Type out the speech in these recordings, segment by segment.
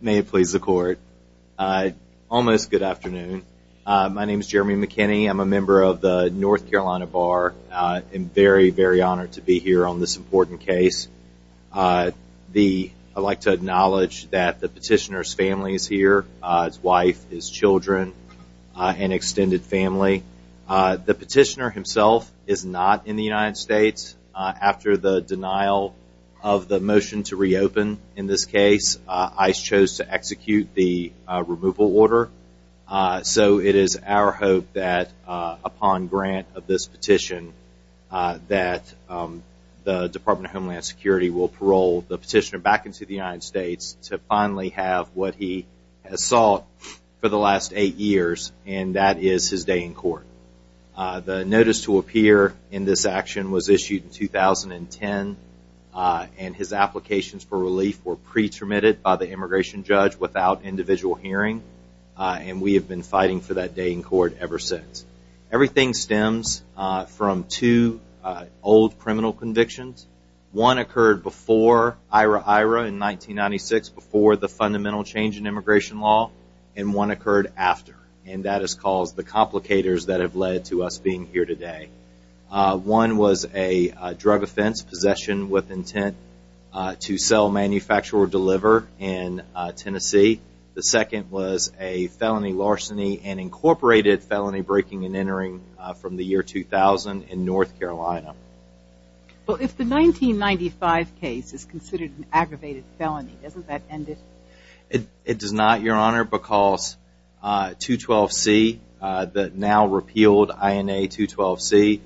May it please the court. Almost good afternoon. My name is Jeremy McKinney. I'm a member of the North Carolina Bar. I'm very, very honored to be here on this important case. I'd like to acknowledge that the petitioner's family is here, his wife, his children, and extended family. The petitioner himself is not in the United States. After the denial of the motion to reopen in this case, ICE chose to execute the removal order. So it is our hope that upon grant of this petition that the Department of Homeland Security will parole the petitioner back into the United States to finally have what he has sought for the last eight years, and that is his day in court. The notice to appear in this action was issued in 2010 and his applications for relief were pre-terminated by the immigration judge without individual hearing, and we have been fighting for that day in court ever since. Everything stems from two old criminal convictions. One occurred before IRA-IRA in 1996, before the fundamental change in immigration law, and one occurred after, and that has caused the complicators that have to sell, manufacture, or deliver in Tennessee. The second was a felony larceny and incorporated felony breaking and entering from the year 2000 in North Carolina. Well, if the 1995 case is considered an aggravated felony, doesn't that end it? It does not, Your Honor, because 212C, the now repealed INA 212C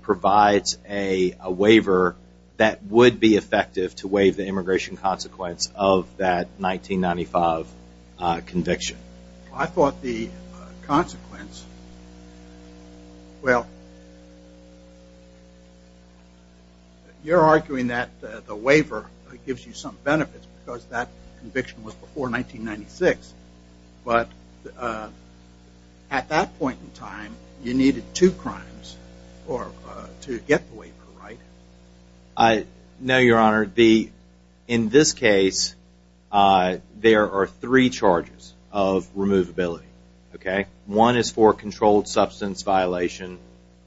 provides a waiver that would be effective to waive the immigration consequence of that 1995 conviction. I thought the consequence, well, you are arguing that the waiver gives you some benefits because that conviction was before 1996, but at that point in time, you needed two crimes to get the waiver, right? No, Your Honor. In this case, there are three charges of removability. One is for a controlled substance violation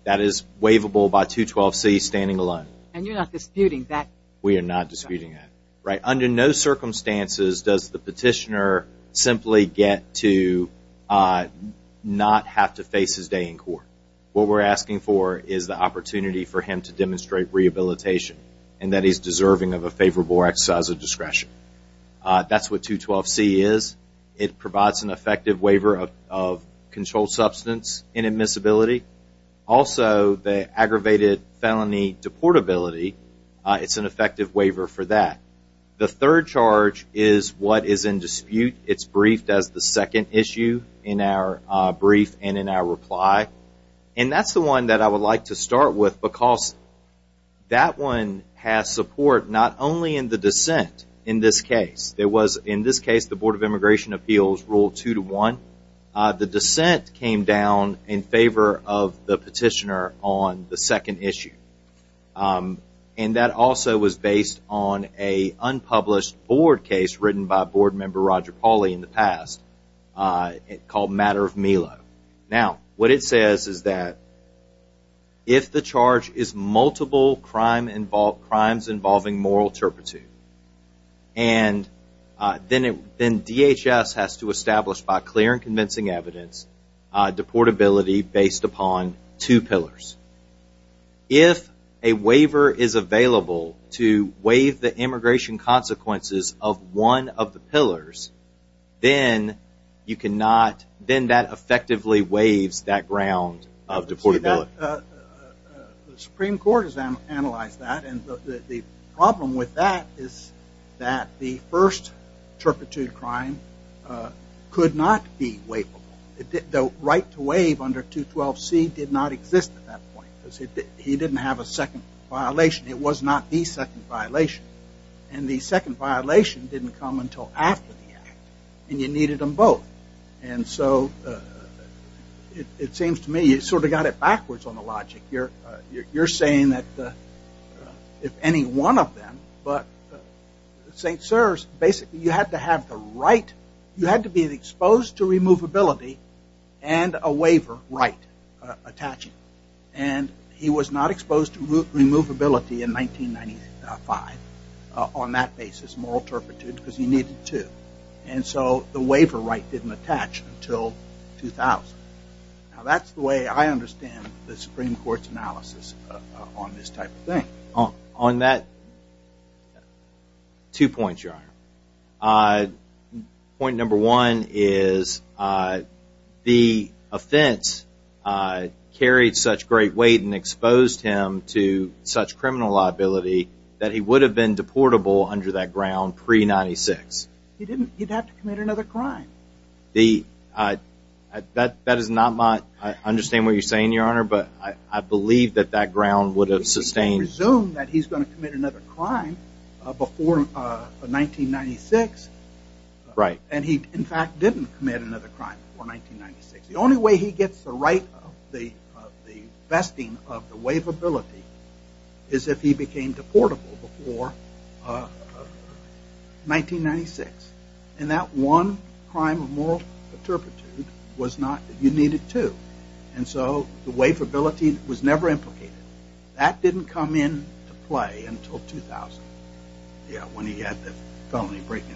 that is waivable by 212C standing alone. And you are not disputing that? We are not disputing that, right? Under no circumstances does the petitioner simply get to not have to face his day in court. What we are asking for is the opportunity for him to demonstrate rehabilitation and that he is deserving of a favorable exercise of discretion. That is what 212C is. It provides an effective waiver of controlled substance inadmissibility. Also, the aggravated felony deportability, it is an effective waiver for that. The third charge is what is in dispute. It is briefed as the second issue in our brief and in our reply. And that is the one that I would like to start with because that one has support not only in the dissent in this case. In this case, the Board of Immigration Appeals ruled 2-1. The dissent came down in favor of the petitioner on the second issue. And that also was based on an unpublished board case written by Board Member Roger Pauly in the past called Matter of Melo. Now, what it says is that if the charge is multiple crimes involving moral turpitude, then DHS has to establish, by clear and convincing evidence, deportability based upon two pillars. If a waiver is available to waive the immigration consequences of one of the pillars, then you cannot, then that effectively waives that ground of deportability. The Supreme Court has analyzed that. And the problem with that is that the first turpitude crime could not be waivable. The right to waive under 212C did not exist at that point. He didn't have a second violation. It was not the second violation. And the second violation didn't come until after the act. And you needed them both. And so it seems to me you sort of got it backwards on the logic. You're saying that if any one of them, but St. Serves, basically you had to have the right, you had to be exposed to removability and a waiver right attaching. And he was not And so the waiver right didn't attach until 2000. Now, that's the way I understand the Supreme Court's analysis on this type of thing. On that, two points, Your Honor. Point number one is the offense carried such great weight and exposed him to such criminal liability that he he'd have to commit another crime. That is not my, I understand what you're saying, Your Honor, but I believe that that ground would have sustained. He can presume that he's going to commit another crime before 1996. Right. And he, in fact, didn't commit another crime before 1996. The only way he gets the right of the vesting of the waivability is if he became deportable before 1996. And that one crime of moral turpitude was not, you needed two. And so the waivability was never implicated. That didn't come into play until 2000. Yeah, when he had the felony break in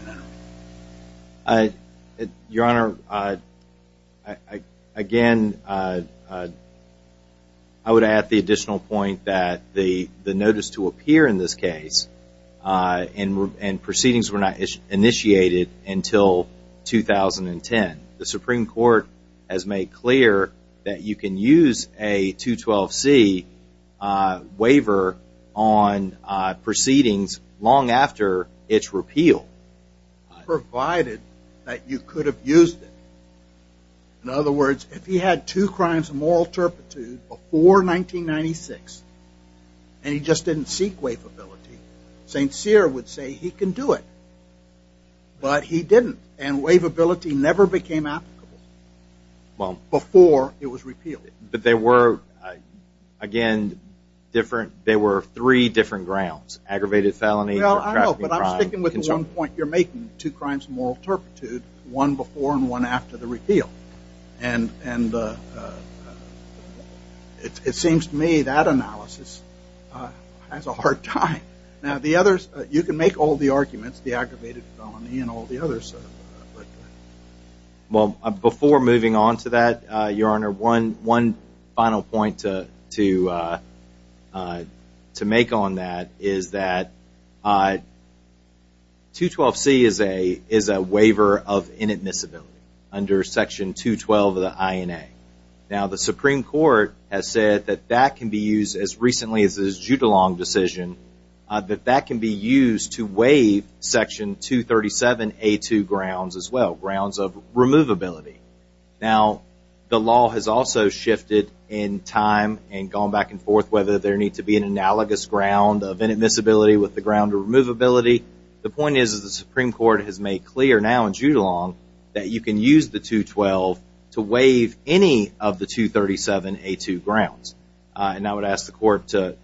there. Your Honor, again, I would add the additional point that the notice to appear in this case and proceedings were not initiated until 2010. The Supreme Court has made clear that you can use a 212C waiver on proceedings long after its repeal. Provided that you could have used it. In other words, if he had two crimes of moral turpitude before 1996 and he just didn't seek waivability, St. Cyr would say he can do it. But he didn't. And waivability never became applicable before it was repealed. But there were, again, different, there were three different grounds. Aggravated felony. Well, I know, but I'm sticking with the one point you're making, two crimes of moral turpitude, one before and one after the repeal. And it seems to me that analysis has a hard time. Now, the others, you can make all the arguments, the aggravated felony and all the others. Well, before moving on to that, Your Honor, one final point to make on that is that 212C is a waiver of inadmissibility under section 212 of the INA. Now, the Supreme Court has said that that can be used as recently as the Judulong decision, that that can be used to waive section 237A2 grounds as well. Grounds of removability. Now, the law has also shifted in time and gone back and forth whether there needs to be an analogous ground of inadmissibility with the ground of removability. The point is the Supreme Court has made clear now in Judulong that you can use the 212 to waive any of the 237A2 grounds. And I would ask the court to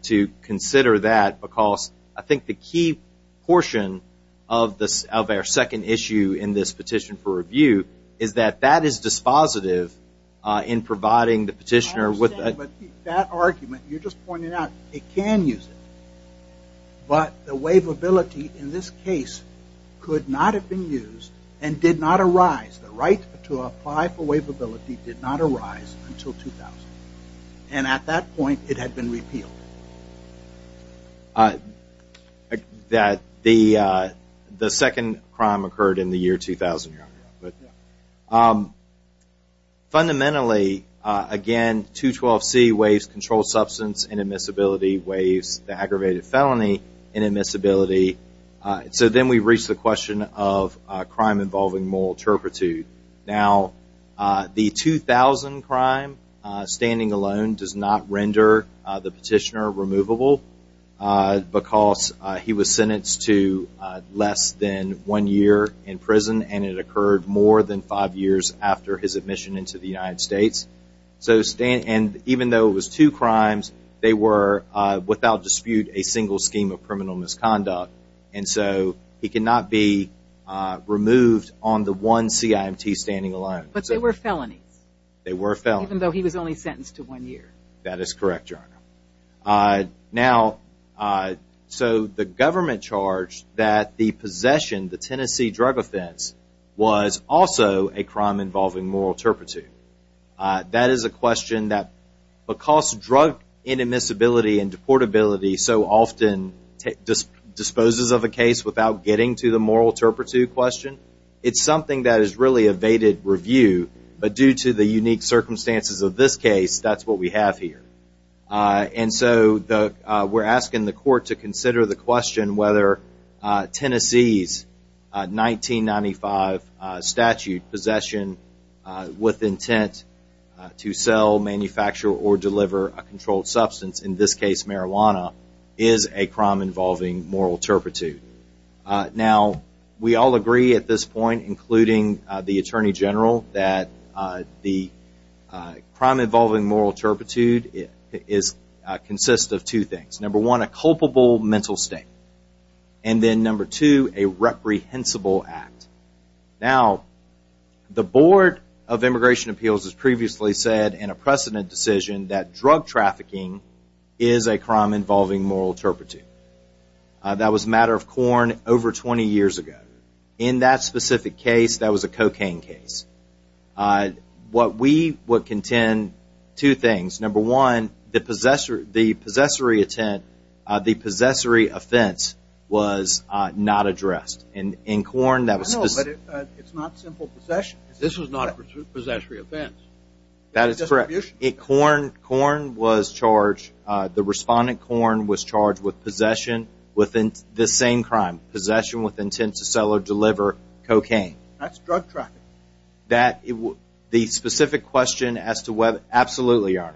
consider that because I think the key portion of our second issue in this petition for review is that that is dispositive in providing the petitioner with... I understand, but that argument you're just pointing out, it can use it. But the waivability in this case could not have been used and did not arise. The right to apply for waivability did not arise until 2000. And at that point, it had been repealed. The second crime occurred in the year 2000, Your Honor. Fundamentally, again, 212C waives controlled substance inadmissibility, waives the aggravated felony inadmissibility. So then we Now, the 2000 crime standing alone does not render the petitioner removable because he was sentenced to less than one year in prison and it occurred more than five years after his admission into the United States. And even though it was two crimes, they were without dispute a single scheme of criminal misconduct. And so he cannot be removed on the one CIMT standing alone. But they were felonies. They were felonies. Even though he was only sentenced to one year. That is correct, Your Honor. Now, so the government charged that the possession, the Tennessee drug offense, was also a crime involving moral turpitude. That is a question that because drug inadmissibility and deportability so often disposes of a case without getting to the moral turpitude question, it's something that has really evaded review. But due to the unique circumstances of this case, that's what we have here. And so we're asking the court to consider the question whether Tennessee's 1995 statute possession with intent to sell, manufacture, or deliver a controlled substance, in this case marijuana, is a crime involving moral turpitude. Now, we all agree at this point, including the Attorney General, that the crime involving moral turpitude consists of two things. Number one, a culpable mental state. And then number two, a reprehensible act. Now, the Board of Immigration Appeals has previously said in a precedent decision that drug trafficking is a crime involving moral turpitude. That was a matter of Corn over 20 years ago. In that specific case, that was a cocaine case. What we would contend, two things. Number one, the possessory intent, the possessory offense was not addressed. In Corn, that was... No, but it's not simple possession. This was not a possessory offense. That is correct. Corn was charged, the respondent, Corn, was charged with possession within this same crime. Possession with intent to sell or deliver cocaine. That's drug trafficking. That, the specific question as to whether, absolutely, Your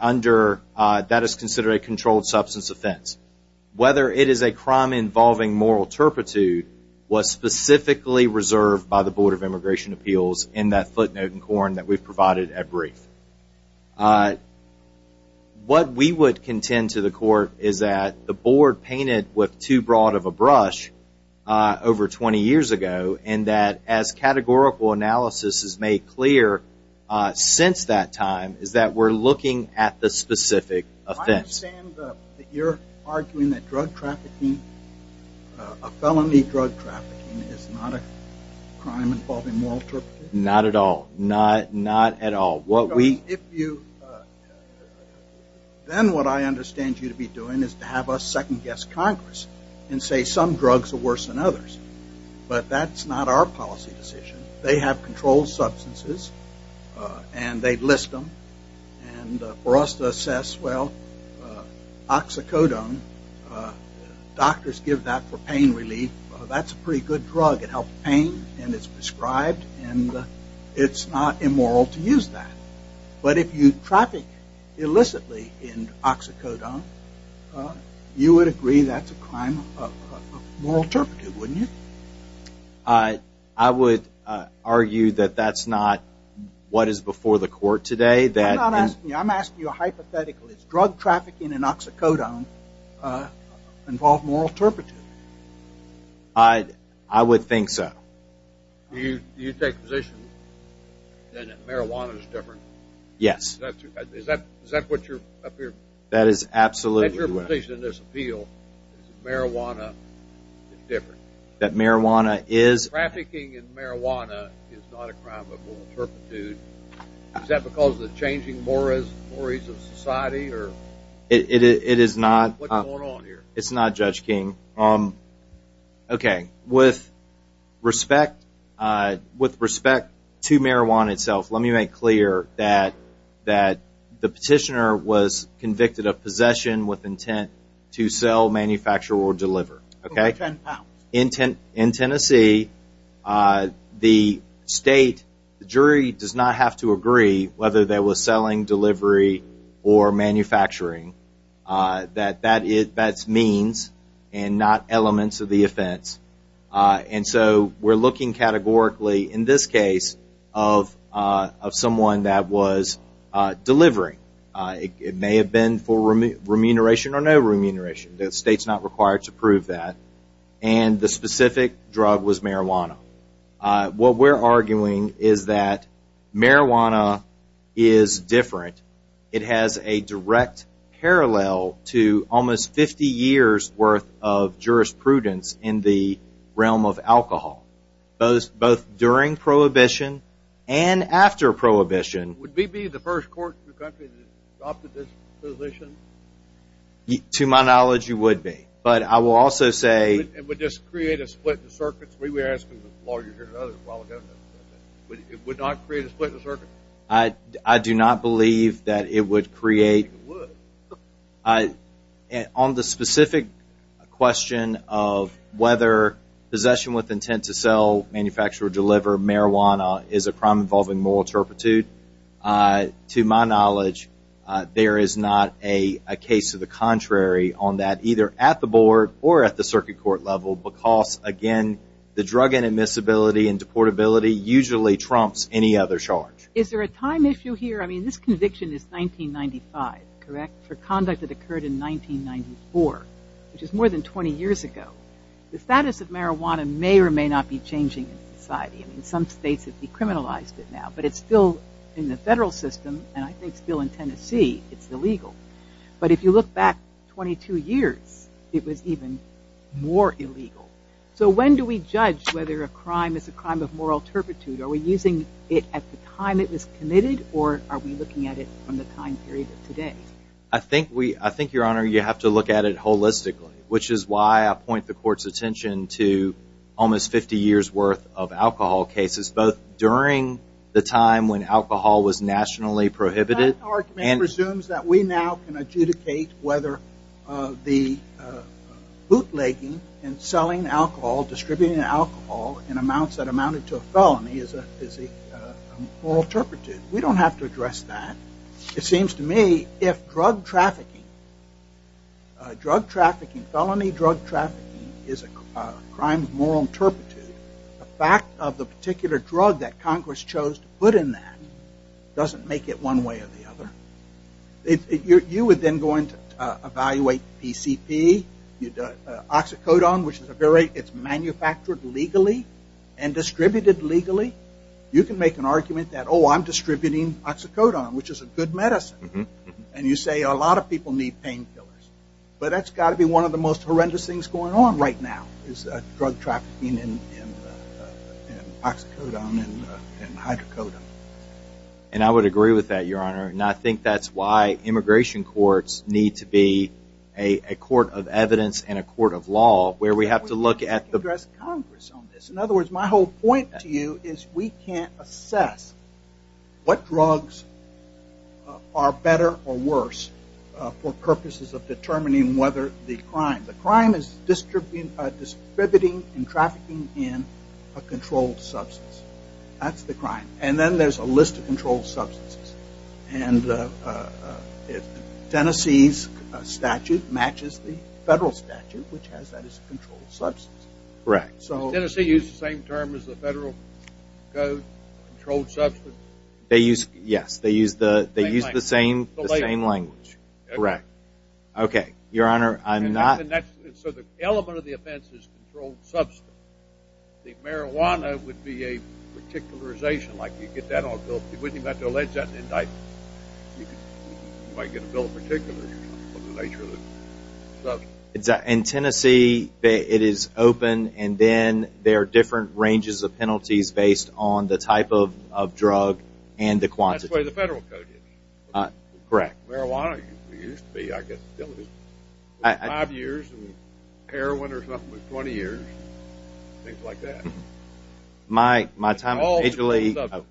Honor. That is considered a controlled substance offense. Whether it is a crime involving moral turpitude was specifically reserved by the Board of Immigration Appeals in that footnote in Corn that we've provided at brief. What we would contend to the Court is that the Board painted with too broad of a brush over 20 years ago, and that as categorical analysis has made clear since that time, is that we're looking at the specific offense. I understand that you're arguing that drug trafficking, a felony drug trafficking, is not a crime involving moral turpitude. Not at all. Not at all. Then what I understand you to be doing is to have a second guess Congress and say some drugs are worse than others, but that's not our policy decision. They have controlled substances, and they list them, and for us to assess, well, oxycodone, doctors give that for pain relief. That's a pretty good drug. It helps pain, and it's prescribed, and it's not immoral to use that. But if you traffic illicitly in oxycodone, you would agree that's a crime of moral turpitude, wouldn't you? I would argue that that's not what is before the Court today. I'm not asking you. I'm asking you a hypothetical. Does drug trafficking in oxycodone involve moral turpitude? I would think so. Do you take position that marijuana is different? Yes. Is that what you're up here? That is absolutely right. Is marijuana different? That marijuana is... Trafficking in marijuana is not a crime of moral turpitude. Is that because of the changing mores of society? It is not. What's going on here? It's not, that the petitioner was convicted of possession with intent to sell, manufacture, or deliver. In Tennessee, the state jury does not have to agree whether they were selling, delivery, or manufacturing. That's means and not elements of the offense. So we're looking categorically in this case of someone that was delivering. It may have been for remuneration or no remuneration. The state's not required to prove that. And the specific drug was marijuana. What we're arguing is that marijuana is different. It has a direct parallel to almost 50 years worth of jurisprudence in the realm of alcohol. Both during Prohibition and after Prohibition... Would we be the first court in the country that adopted this position? To my knowledge, you would be. But I will also say... It would just create a split in the circuits. We were asking lawyers and others a while ago. It would not create a split in the circuits? I do not believe that it would create... It would. On the specific question of whether possession with intent to sell, manufacture, or deliver marijuana is a crime involving moral turpitude, to my knowledge, there is not a case of the contrary on that either at the board or at the circuit court level. Because again, the drug inadmissibility and deportability usually trumps any other charge. Is there a time issue here? I mean, this conviction is 1995, correct? For conduct that occurred in 1994, which is more than 20 years ago. The status of marijuana may or may not be changing in society. I mean, some states have decriminalized it now. But it's still in the federal system, and I think still in Tennessee, it's illegal. But if you look back 22 years, it was even more illegal. So when do we judge whether a crime is a crime of moral turpitude? Are we using it at the time it was committed, or are we looking at it from the time period of today? I think, Your Honor, you have to look at it holistically, which is why I point the court's attention to almost 50 years worth of alcohol cases, both during the time when alcohol was nationally prohibited... That argument presumes that we now can adjudicate whether the bootlegging and selling alcohol, distributing alcohol in amounts that amounted to a felony, is a moral turpitude. We don't have to address that. It seems to me if drug trafficking, drug trafficking, felony drug trafficking is a crime of moral turpitude, the fact of the particular drug that Congress chose to put in that doesn't make it one way or the other. You would then go in to evaluate PCP, oxycodone, which is a very... It's manufactured legally and distributed legally. You can make an argument that, oh, I'm distributing oxycodone, which is a good medicine. And you say a lot of people need painkillers. But that's got to be one of the most horrendous things going on right now, is drug trafficking and oxycodone and hydrocodone. And I would agree with that, Your Honor. And I think that's why immigration courts need to be a court of evidence and a court of law, where we have to look at the... In other words, my whole point to you is we can't assess what drugs are better or worse for purposes of determining whether the crime... The crime is distributing and trafficking in a controlled substance. That's the crime. And then there's a list of controlled substances. And Tennessee's statute matches the federal statute, which has that as a controlled substance. Correct. So Tennessee used the same term as the federal code, controlled substance? They used... Yes. They used the same language. Correct. Okay. Your Honor, I'm not... So the element of the offense is controlled substance. The marijuana would be a particularization, like you get that on a bill. You wouldn't even have to allege that in indictment. You might get a bill in particular. It's in Tennessee. It is open. And then there are different ranges of penalties based on the type of drug and the quantity. That's the way the federal code is. Correct. Marijuana used to be, I guess, still is. Five years and heroin or something was 20 years. Things like that. My time... It's all...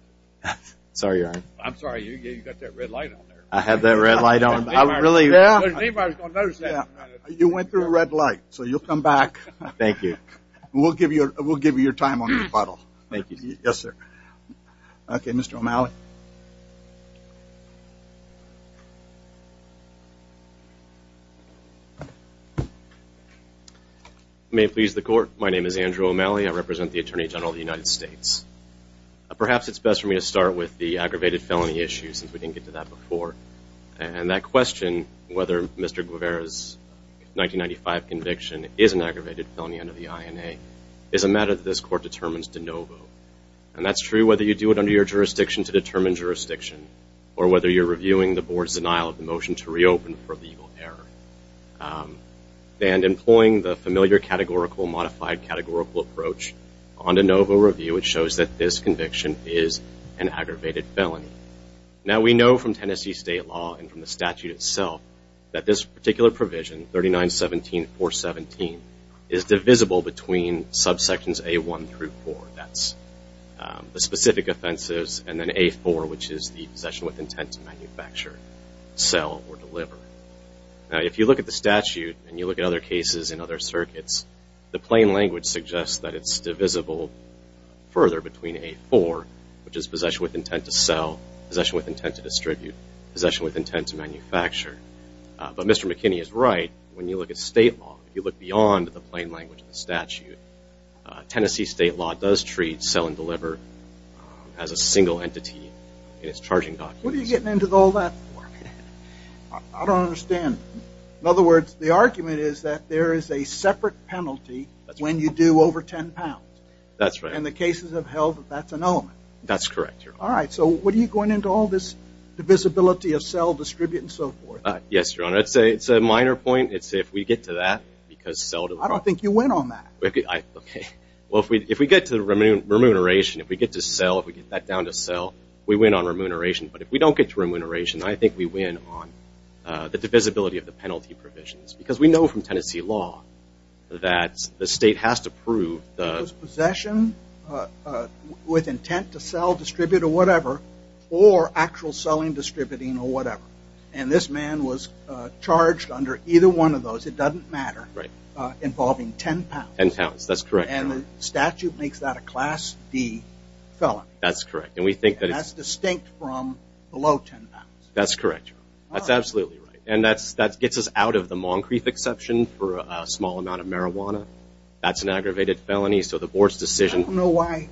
Sorry, Your Honor. I'm sorry. You got that red light on there. I had that red light on. I really... You went through a red light, so you'll come back. Thank you. We'll give you your time on the rebuttal. Thank you, sir. Yes, sir. Okay. Mr. O'Malley. You may please the court. My name is Andrew O'Malley. I represent the Attorney General of the United States. And I'm here to talk about aggravated felony issues. We didn't get to that before. And that question, whether Mr. Guevara's 1995 conviction is an aggravated felony under the INA, is a matter that this court determines de novo. And that's true whether you do it under your jurisdiction to determine jurisdiction or whether you're reviewing the board's denial of the motion to reopen for legal error. And employing the familiar categorical modified categorical approach on de novo review, it shows that this conviction is an aggravated felony. Now, we know from Tennessee state law and from the statute itself that this particular provision, 3917.417, is divisible between subsections A1 through 4. That's the specific offenses. And then A4, which is the possession with intent to manufacture, sell, or deliver. Now, if you look at the statute and you look at other cases in other circuits, the plain language suggests that it's divisible further between A4, which is possession with intent to sell, possession with intent to distribute, possession with intent to manufacture. But Mr. McKinney is right. When you look at state law, if you look beyond the plain language of the statute, Tennessee state law does treat sell and deliver as a single entity in its charging documents. What are you getting into all that for? I don't understand. In other words, the argument is that there is a separate penalty when you do over 10 pounds. That's right. In the cases of health, that's an element. That's correct, Your Honor. All right. So what are you going into all this divisibility of sell, distribute, and so forth? Yes, Your Honor. It's a minor point. It's if we get to that because sell... I don't think you win on that. Okay. Well, if we get to remuneration, if we get to sell, if we get that down to sell, we win on remuneration. But if we don't get to remuneration, I think we win on the divisibility of the penalty provisions because we know from the state has to prove the... It was possession with intent to sell, distribute, or whatever, or actual selling, distributing, or whatever. And this man was charged under either one of those, it doesn't matter, involving 10 pounds. 10 pounds. That's correct, Your Honor. And the statute makes that a Class D felony. That's correct. And we think that it's... And that's distinct from below 10 pounds. That's correct, Your Honor. That's absolutely right. And that gets us out of the Moncrief exception for a small amount of marijuana. That's an aggravated felony. So the board's decision... I don't know why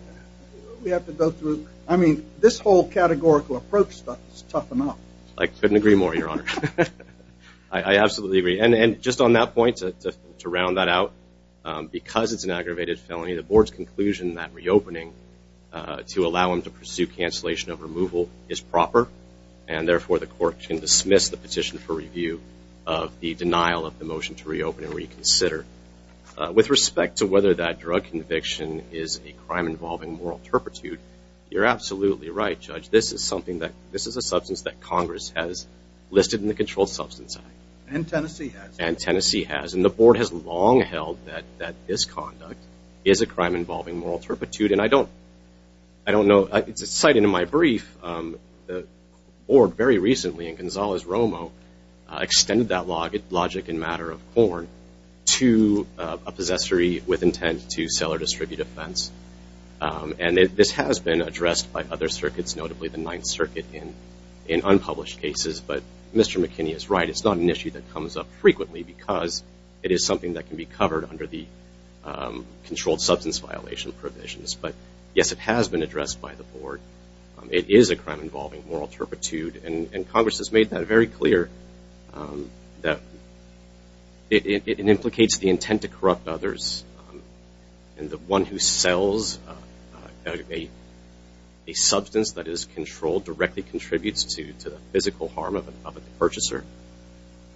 we have to go through... I mean, this whole categorical approach stuff is tough enough. I couldn't agree more, Your Honor. I absolutely agree. And just on that point, to round that out, because it's an aggravated felony, the board's conclusion that reopening to allow them to pursue cancellation of removal is proper. And therefore, the court can dismiss the petition for review of the denial of the motion to reopen and reconsider. With respect to whether that drug conviction is a crime involving moral turpitude, you're absolutely right, Judge. This is something that... This is a substance that Congress has listed in the Controlled Substance Act. And Tennessee has. And Tennessee has. And the board has long held that this conduct is a crime involving moral turpitude. And I don't know... It's a sighting in my brief. The board very recently, in Gonzales-Romo, extended that logic in matter of corn to a possessory with intent to sell or distribute offense. And this has been addressed by other circuits, notably the Ninth Circuit, in unpublished cases. But Mr. McKinney is right. It's not an issue that comes up frequently because it is something that can be covered under the controlled substance violation provisions. But yes, it has been addressed by the board. It is a crime involving moral turpitude. And Congress has made that very clear, that it implicates the intent to corrupt others. And the one who sells a substance that is controlled directly contributes to the physical purchaser.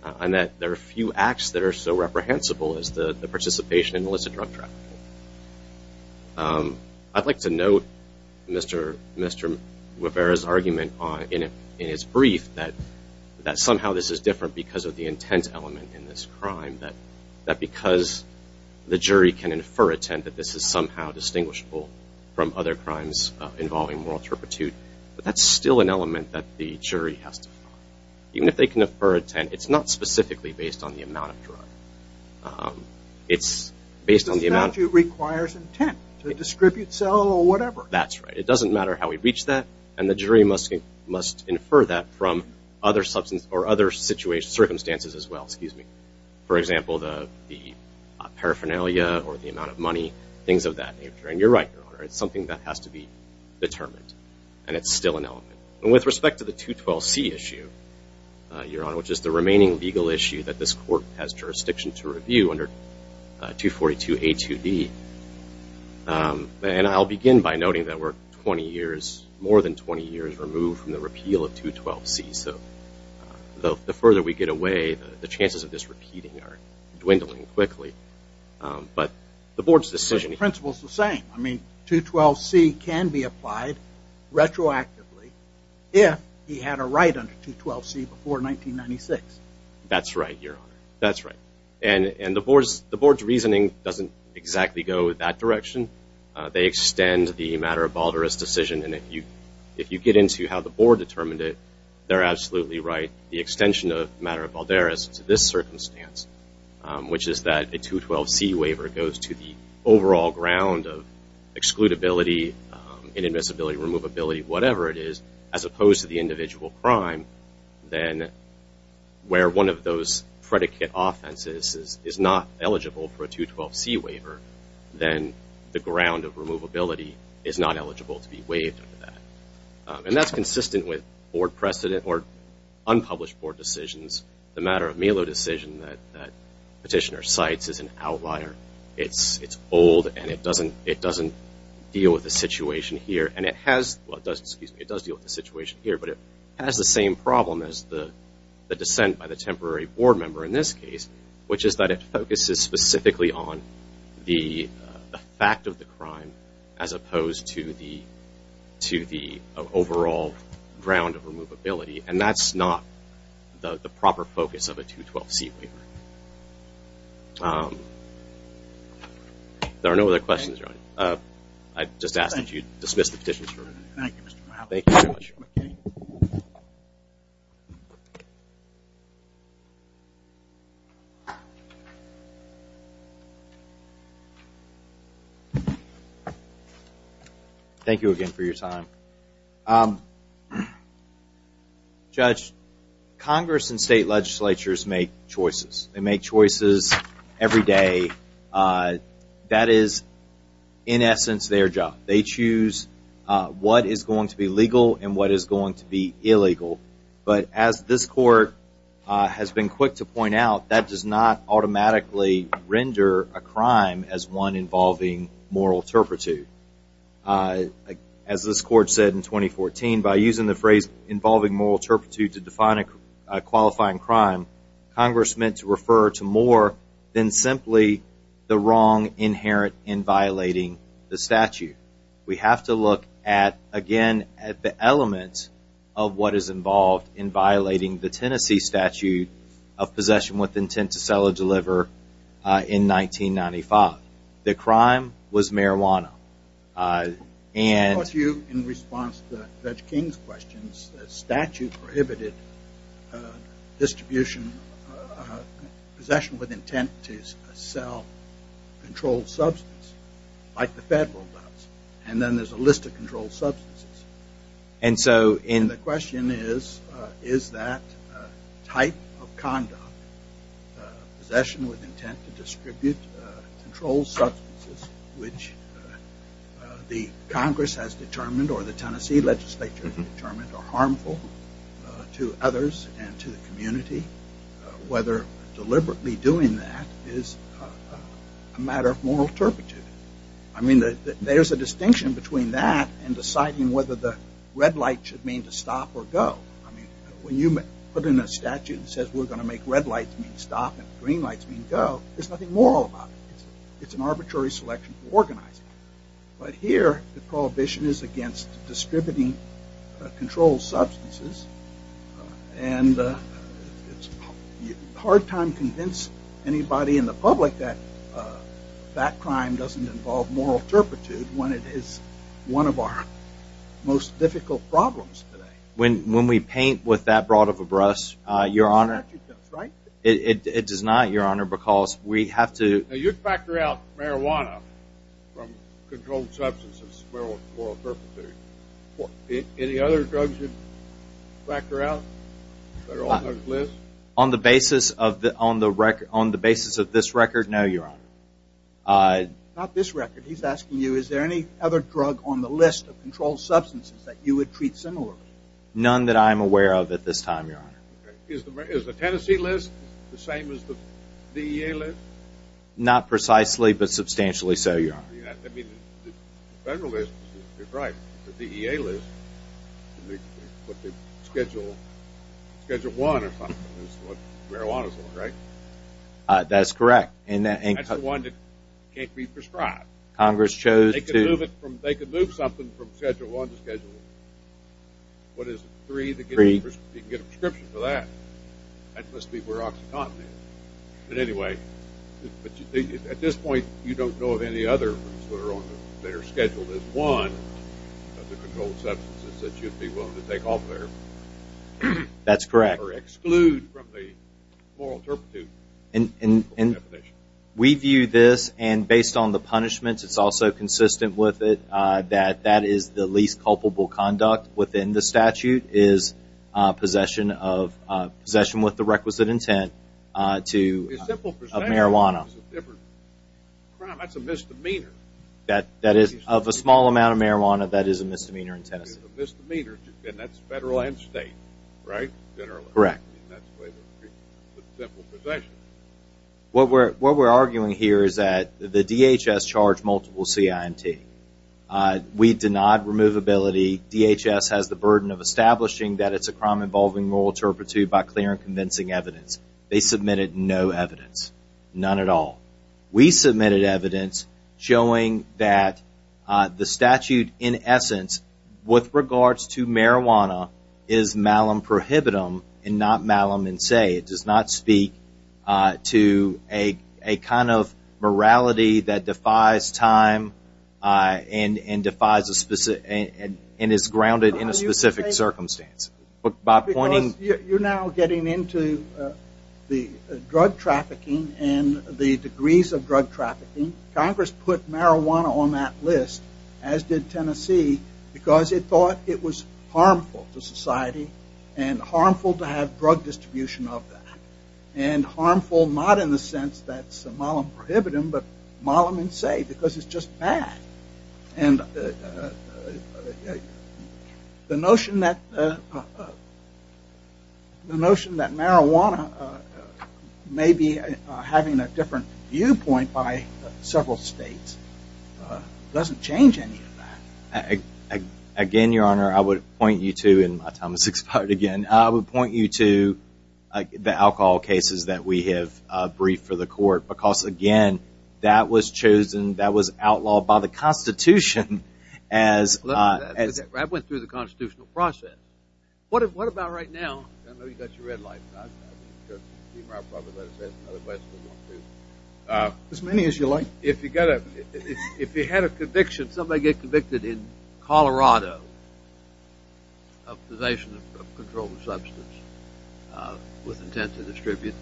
And that there are few acts that are so reprehensible as the participation in illicit drug trafficking. I'd like to note Mr. Rivera's argument in his brief that somehow this is different because of the intent element in this crime. That because the jury can infer intent, that this is somehow distinguishable from other crimes involving moral turpitude. But that's still an element that the jury has to follow. Even if they can infer intent, it's not specifically based on the amount of drug. It's based on the amount of... The statute requires intent to distribute, sell, or whatever. That's right. It doesn't matter how we reach that. And the jury must infer that from other circumstances as well. For example, the paraphernalia or the amount of money, things of that nature. And you're right, Your Honor. It's something that has to be determined. And it's still an element. And with respect to the 212C issue, Your Honor, which is the remaining legal issue that this court has jurisdiction to review under 242A2D. And I'll begin by noting that we're 20 years, more than 20 years, removed from the repeal of 212C. So the further we get away, the chances of this repeating are dwindling quickly. But the board's decision... The principle is the same. I mean, retroactively, if he had a right under 212C before 1996. That's right, Your Honor. That's right. And the board's reasoning doesn't exactly go that direction. They extend the matter of Balderas decision. And if you get into how the board determined it, they're absolutely right. The extension of the matter of Balderas to this circumstance, which is that a 212C waiver goes to the overall ground of excludability, inadmissibility, removability, whatever it is, as opposed to the individual crime, then where one of those predicate offenses is not eligible for a 212C waiver, then the ground of removability is not eligible to be waived under that. And that's consistent with board precedent or unpublished board decisions. The matter of Melo decision that Petitioner cites is an outlier. It's old and it doesn't deal with the situation here. It does deal with the situation here, but it has the same problem as the dissent by the temporary board member in this case, which is that it focuses specifically on the fact of the crime as opposed to the overall ground of removability. And that's not the proper focus of a 212C waiver. There are no other questions, Your Honor. I just ask that you dismiss the petitions. Thank you, Mr. Powell. Thank you again for your time. Judge, Congress and state legislatures make choices. They make choices every day. And that is in essence their job. They choose what is going to be legal and what is going to be illegal. But as this Court has been quick to point out, that does not automatically render a crime as one involving moral turpitude. As this Court said in 2014, by using the phrase involving moral turpitude to define a qualifying crime, Congress meant to refer to more than simply the wrong inherent in violating the statute. We have to look at, again, at the elements of what is involved in violating the Tennessee statute of possession with intent to sell or deliver in 1995. The crime was marijuana. And... I'll ask you in response to Judge King's questions, the statute prohibited a distribution, possession with intent to sell controlled substance like the federal does. And then there is a list of controlled substances. And so... And the question is, is that type of conduct, possession with intent to distribute controlled substances which the Congress has determined or the Tennessee legislature determined are harmful to others and to the community, whether deliberately doing that is a matter of moral turpitude. I mean, there is a distinction between that and deciding whether the red light should mean to stop or go. I mean, when you put in a statute that says we are going to make red lights mean stop and green lights mean go, there is nothing moral about it. It is an controlled substance. And it is a hard time to convince anybody in the public that that crime doesn't involve moral turpitude when it is one of our most difficult problems today. When we paint with that broad of a brush, Your Honor, it does not, Your Honor, because we have factored out marijuana from controlled substances for moral turpitude. Any other drugs you have factored out that are on those lists? On the basis of this record, no, Your Honor. Not this record. He is asking you, is there any other drug on the list of controlled substances that you would treat similarly? None that I am aware of at this time, Your Honor. Is the Tennessee list the same as the DEA list? Not precisely, but substantially so, Your Honor. I mean, the federalist is right. The DEA list, what they schedule, Schedule 1 or something is what marijuana is for, right? That is correct. And that is the one that can't be prescribed. Congress chose to... They could move it from, they could move something from Schedule 1 to Schedule 3. What is it, 3? You can get a prescription for that. That must be where OxyContin is. But anyway, at this point, you don't know of any other that are scheduled as one of the controlled substances that you'd be willing to take off there? That's correct. Or exclude from the moral turpitude definition. We view this, and based on the punishments, it's also consistent with it, that that is the least culpable conduct within the statute, is possession with the requisite intent to... A simple possession of marijuana is a different crime. That's a misdemeanor. That is, of a small amount of marijuana, that is a misdemeanor in Texas. It's a misdemeanor, and that's federal and state, right, generally? Correct. I mean, that's the way they treat it, a simple possession. What we're arguing here is that the DHS charged multiple CIMT. We denied removability. DHS has the burden of establishing that it's a crime involving moral turpitude by clear and convincing evidence. They submitted no evidence, none at all. We submitted evidence showing that the statute, in essence, with regards to marijuana, is malum prohibitum and not malum in se. It does not speak to a kind of morality that defies time and is grounded in a specific circumstance. You're now getting into the drug trafficking and the degrees of drug trafficking. Congress put marijuana on that list, as did Tennessee, because it thought it was harmful to society and harmful to have drug distribution of that, and harmful not in the sense that it's malum prohibitum, but malum in se because it's just bad. And the notion that marijuana may be having a different viewpoint by several states doesn't change any of that. Again, Your Honor, I would point you to, and my time has expired again, I would point you to the alcohol cases that we have briefed for the court because, again, that was chosen, that was outlawed by the Constitution as... Well, that went through the constitutional process. What about right now? I know you got your red light. As many as you like. If you had a conviction, somebody get convicted in Colorado of possession of a controlled substance with intent to distribute,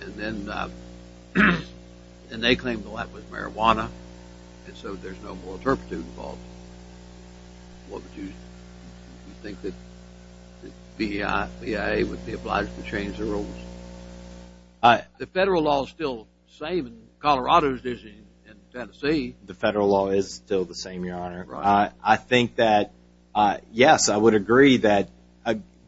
and then they claim the light was marijuana, and so there's no more turpitude involved, what would you think that the BIA would be obliged to change the rules? The federal law is still the same in Colorado as it is in Tennessee. The federal law is still the same, Your Honor. I think that, yes, I would agree that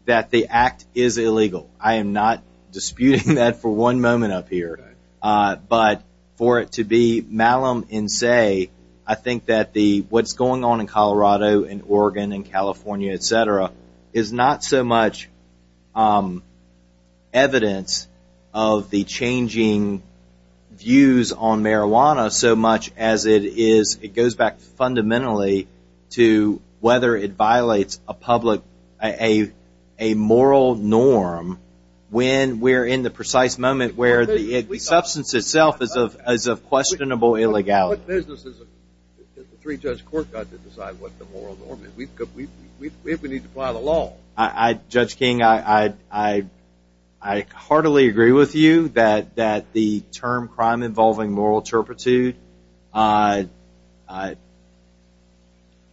the act is illegal. I am not disputing that for one moment up here, but for it to be malum in se, I think that what's going on in Colorado and Oregon and California, et cetera, is not so much evidence of the changing views on marijuana so much as it goes back fundamentally to whether it violates a moral norm when we're in the precise moment where the substance itself is of questionable illegality. What business has the three-judge court got to decide what the moral norm is? We need to apply the law. Judge King, I heartily agree with you that the term crime involving moral turpitude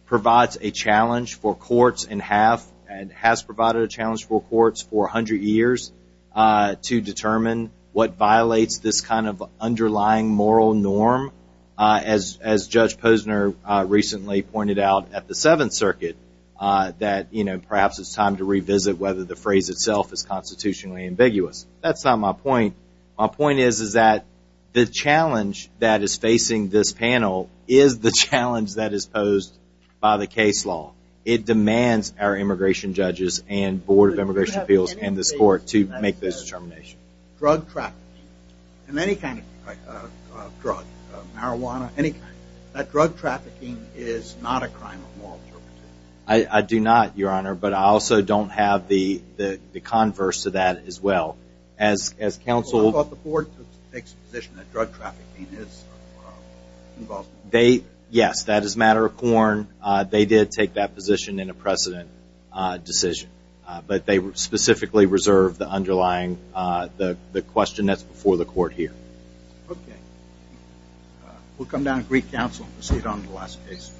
provides a challenge for courts and has provided a challenge for courts for 100 years to determine what violates this kind of underlying moral norm. As Judge Posner recently pointed out at the Seventh Circuit, that perhaps it's time to revisit whether the phrase itself is constitutionally ambiguous. That's not my point. My point is that the challenge that is facing this panel is the challenge that is posed by the case law. It demands our immigration judges and Board of Immigration Appeals and this court to make this determination. Drug trafficking and any kind of drug, marijuana, any kind, that drug trafficking is not a crime of moral turpitude. I do not, Your Honor, but I also don't have the converse to that as well. I thought the board takes the position that drug trafficking is involved. They, yes, that is a matter of quorum. They did take that position in a precedent decision, but they specifically reserved the underlying, the question that's before the court here. Okay. We'll come down and brief counsel and proceed on the last case.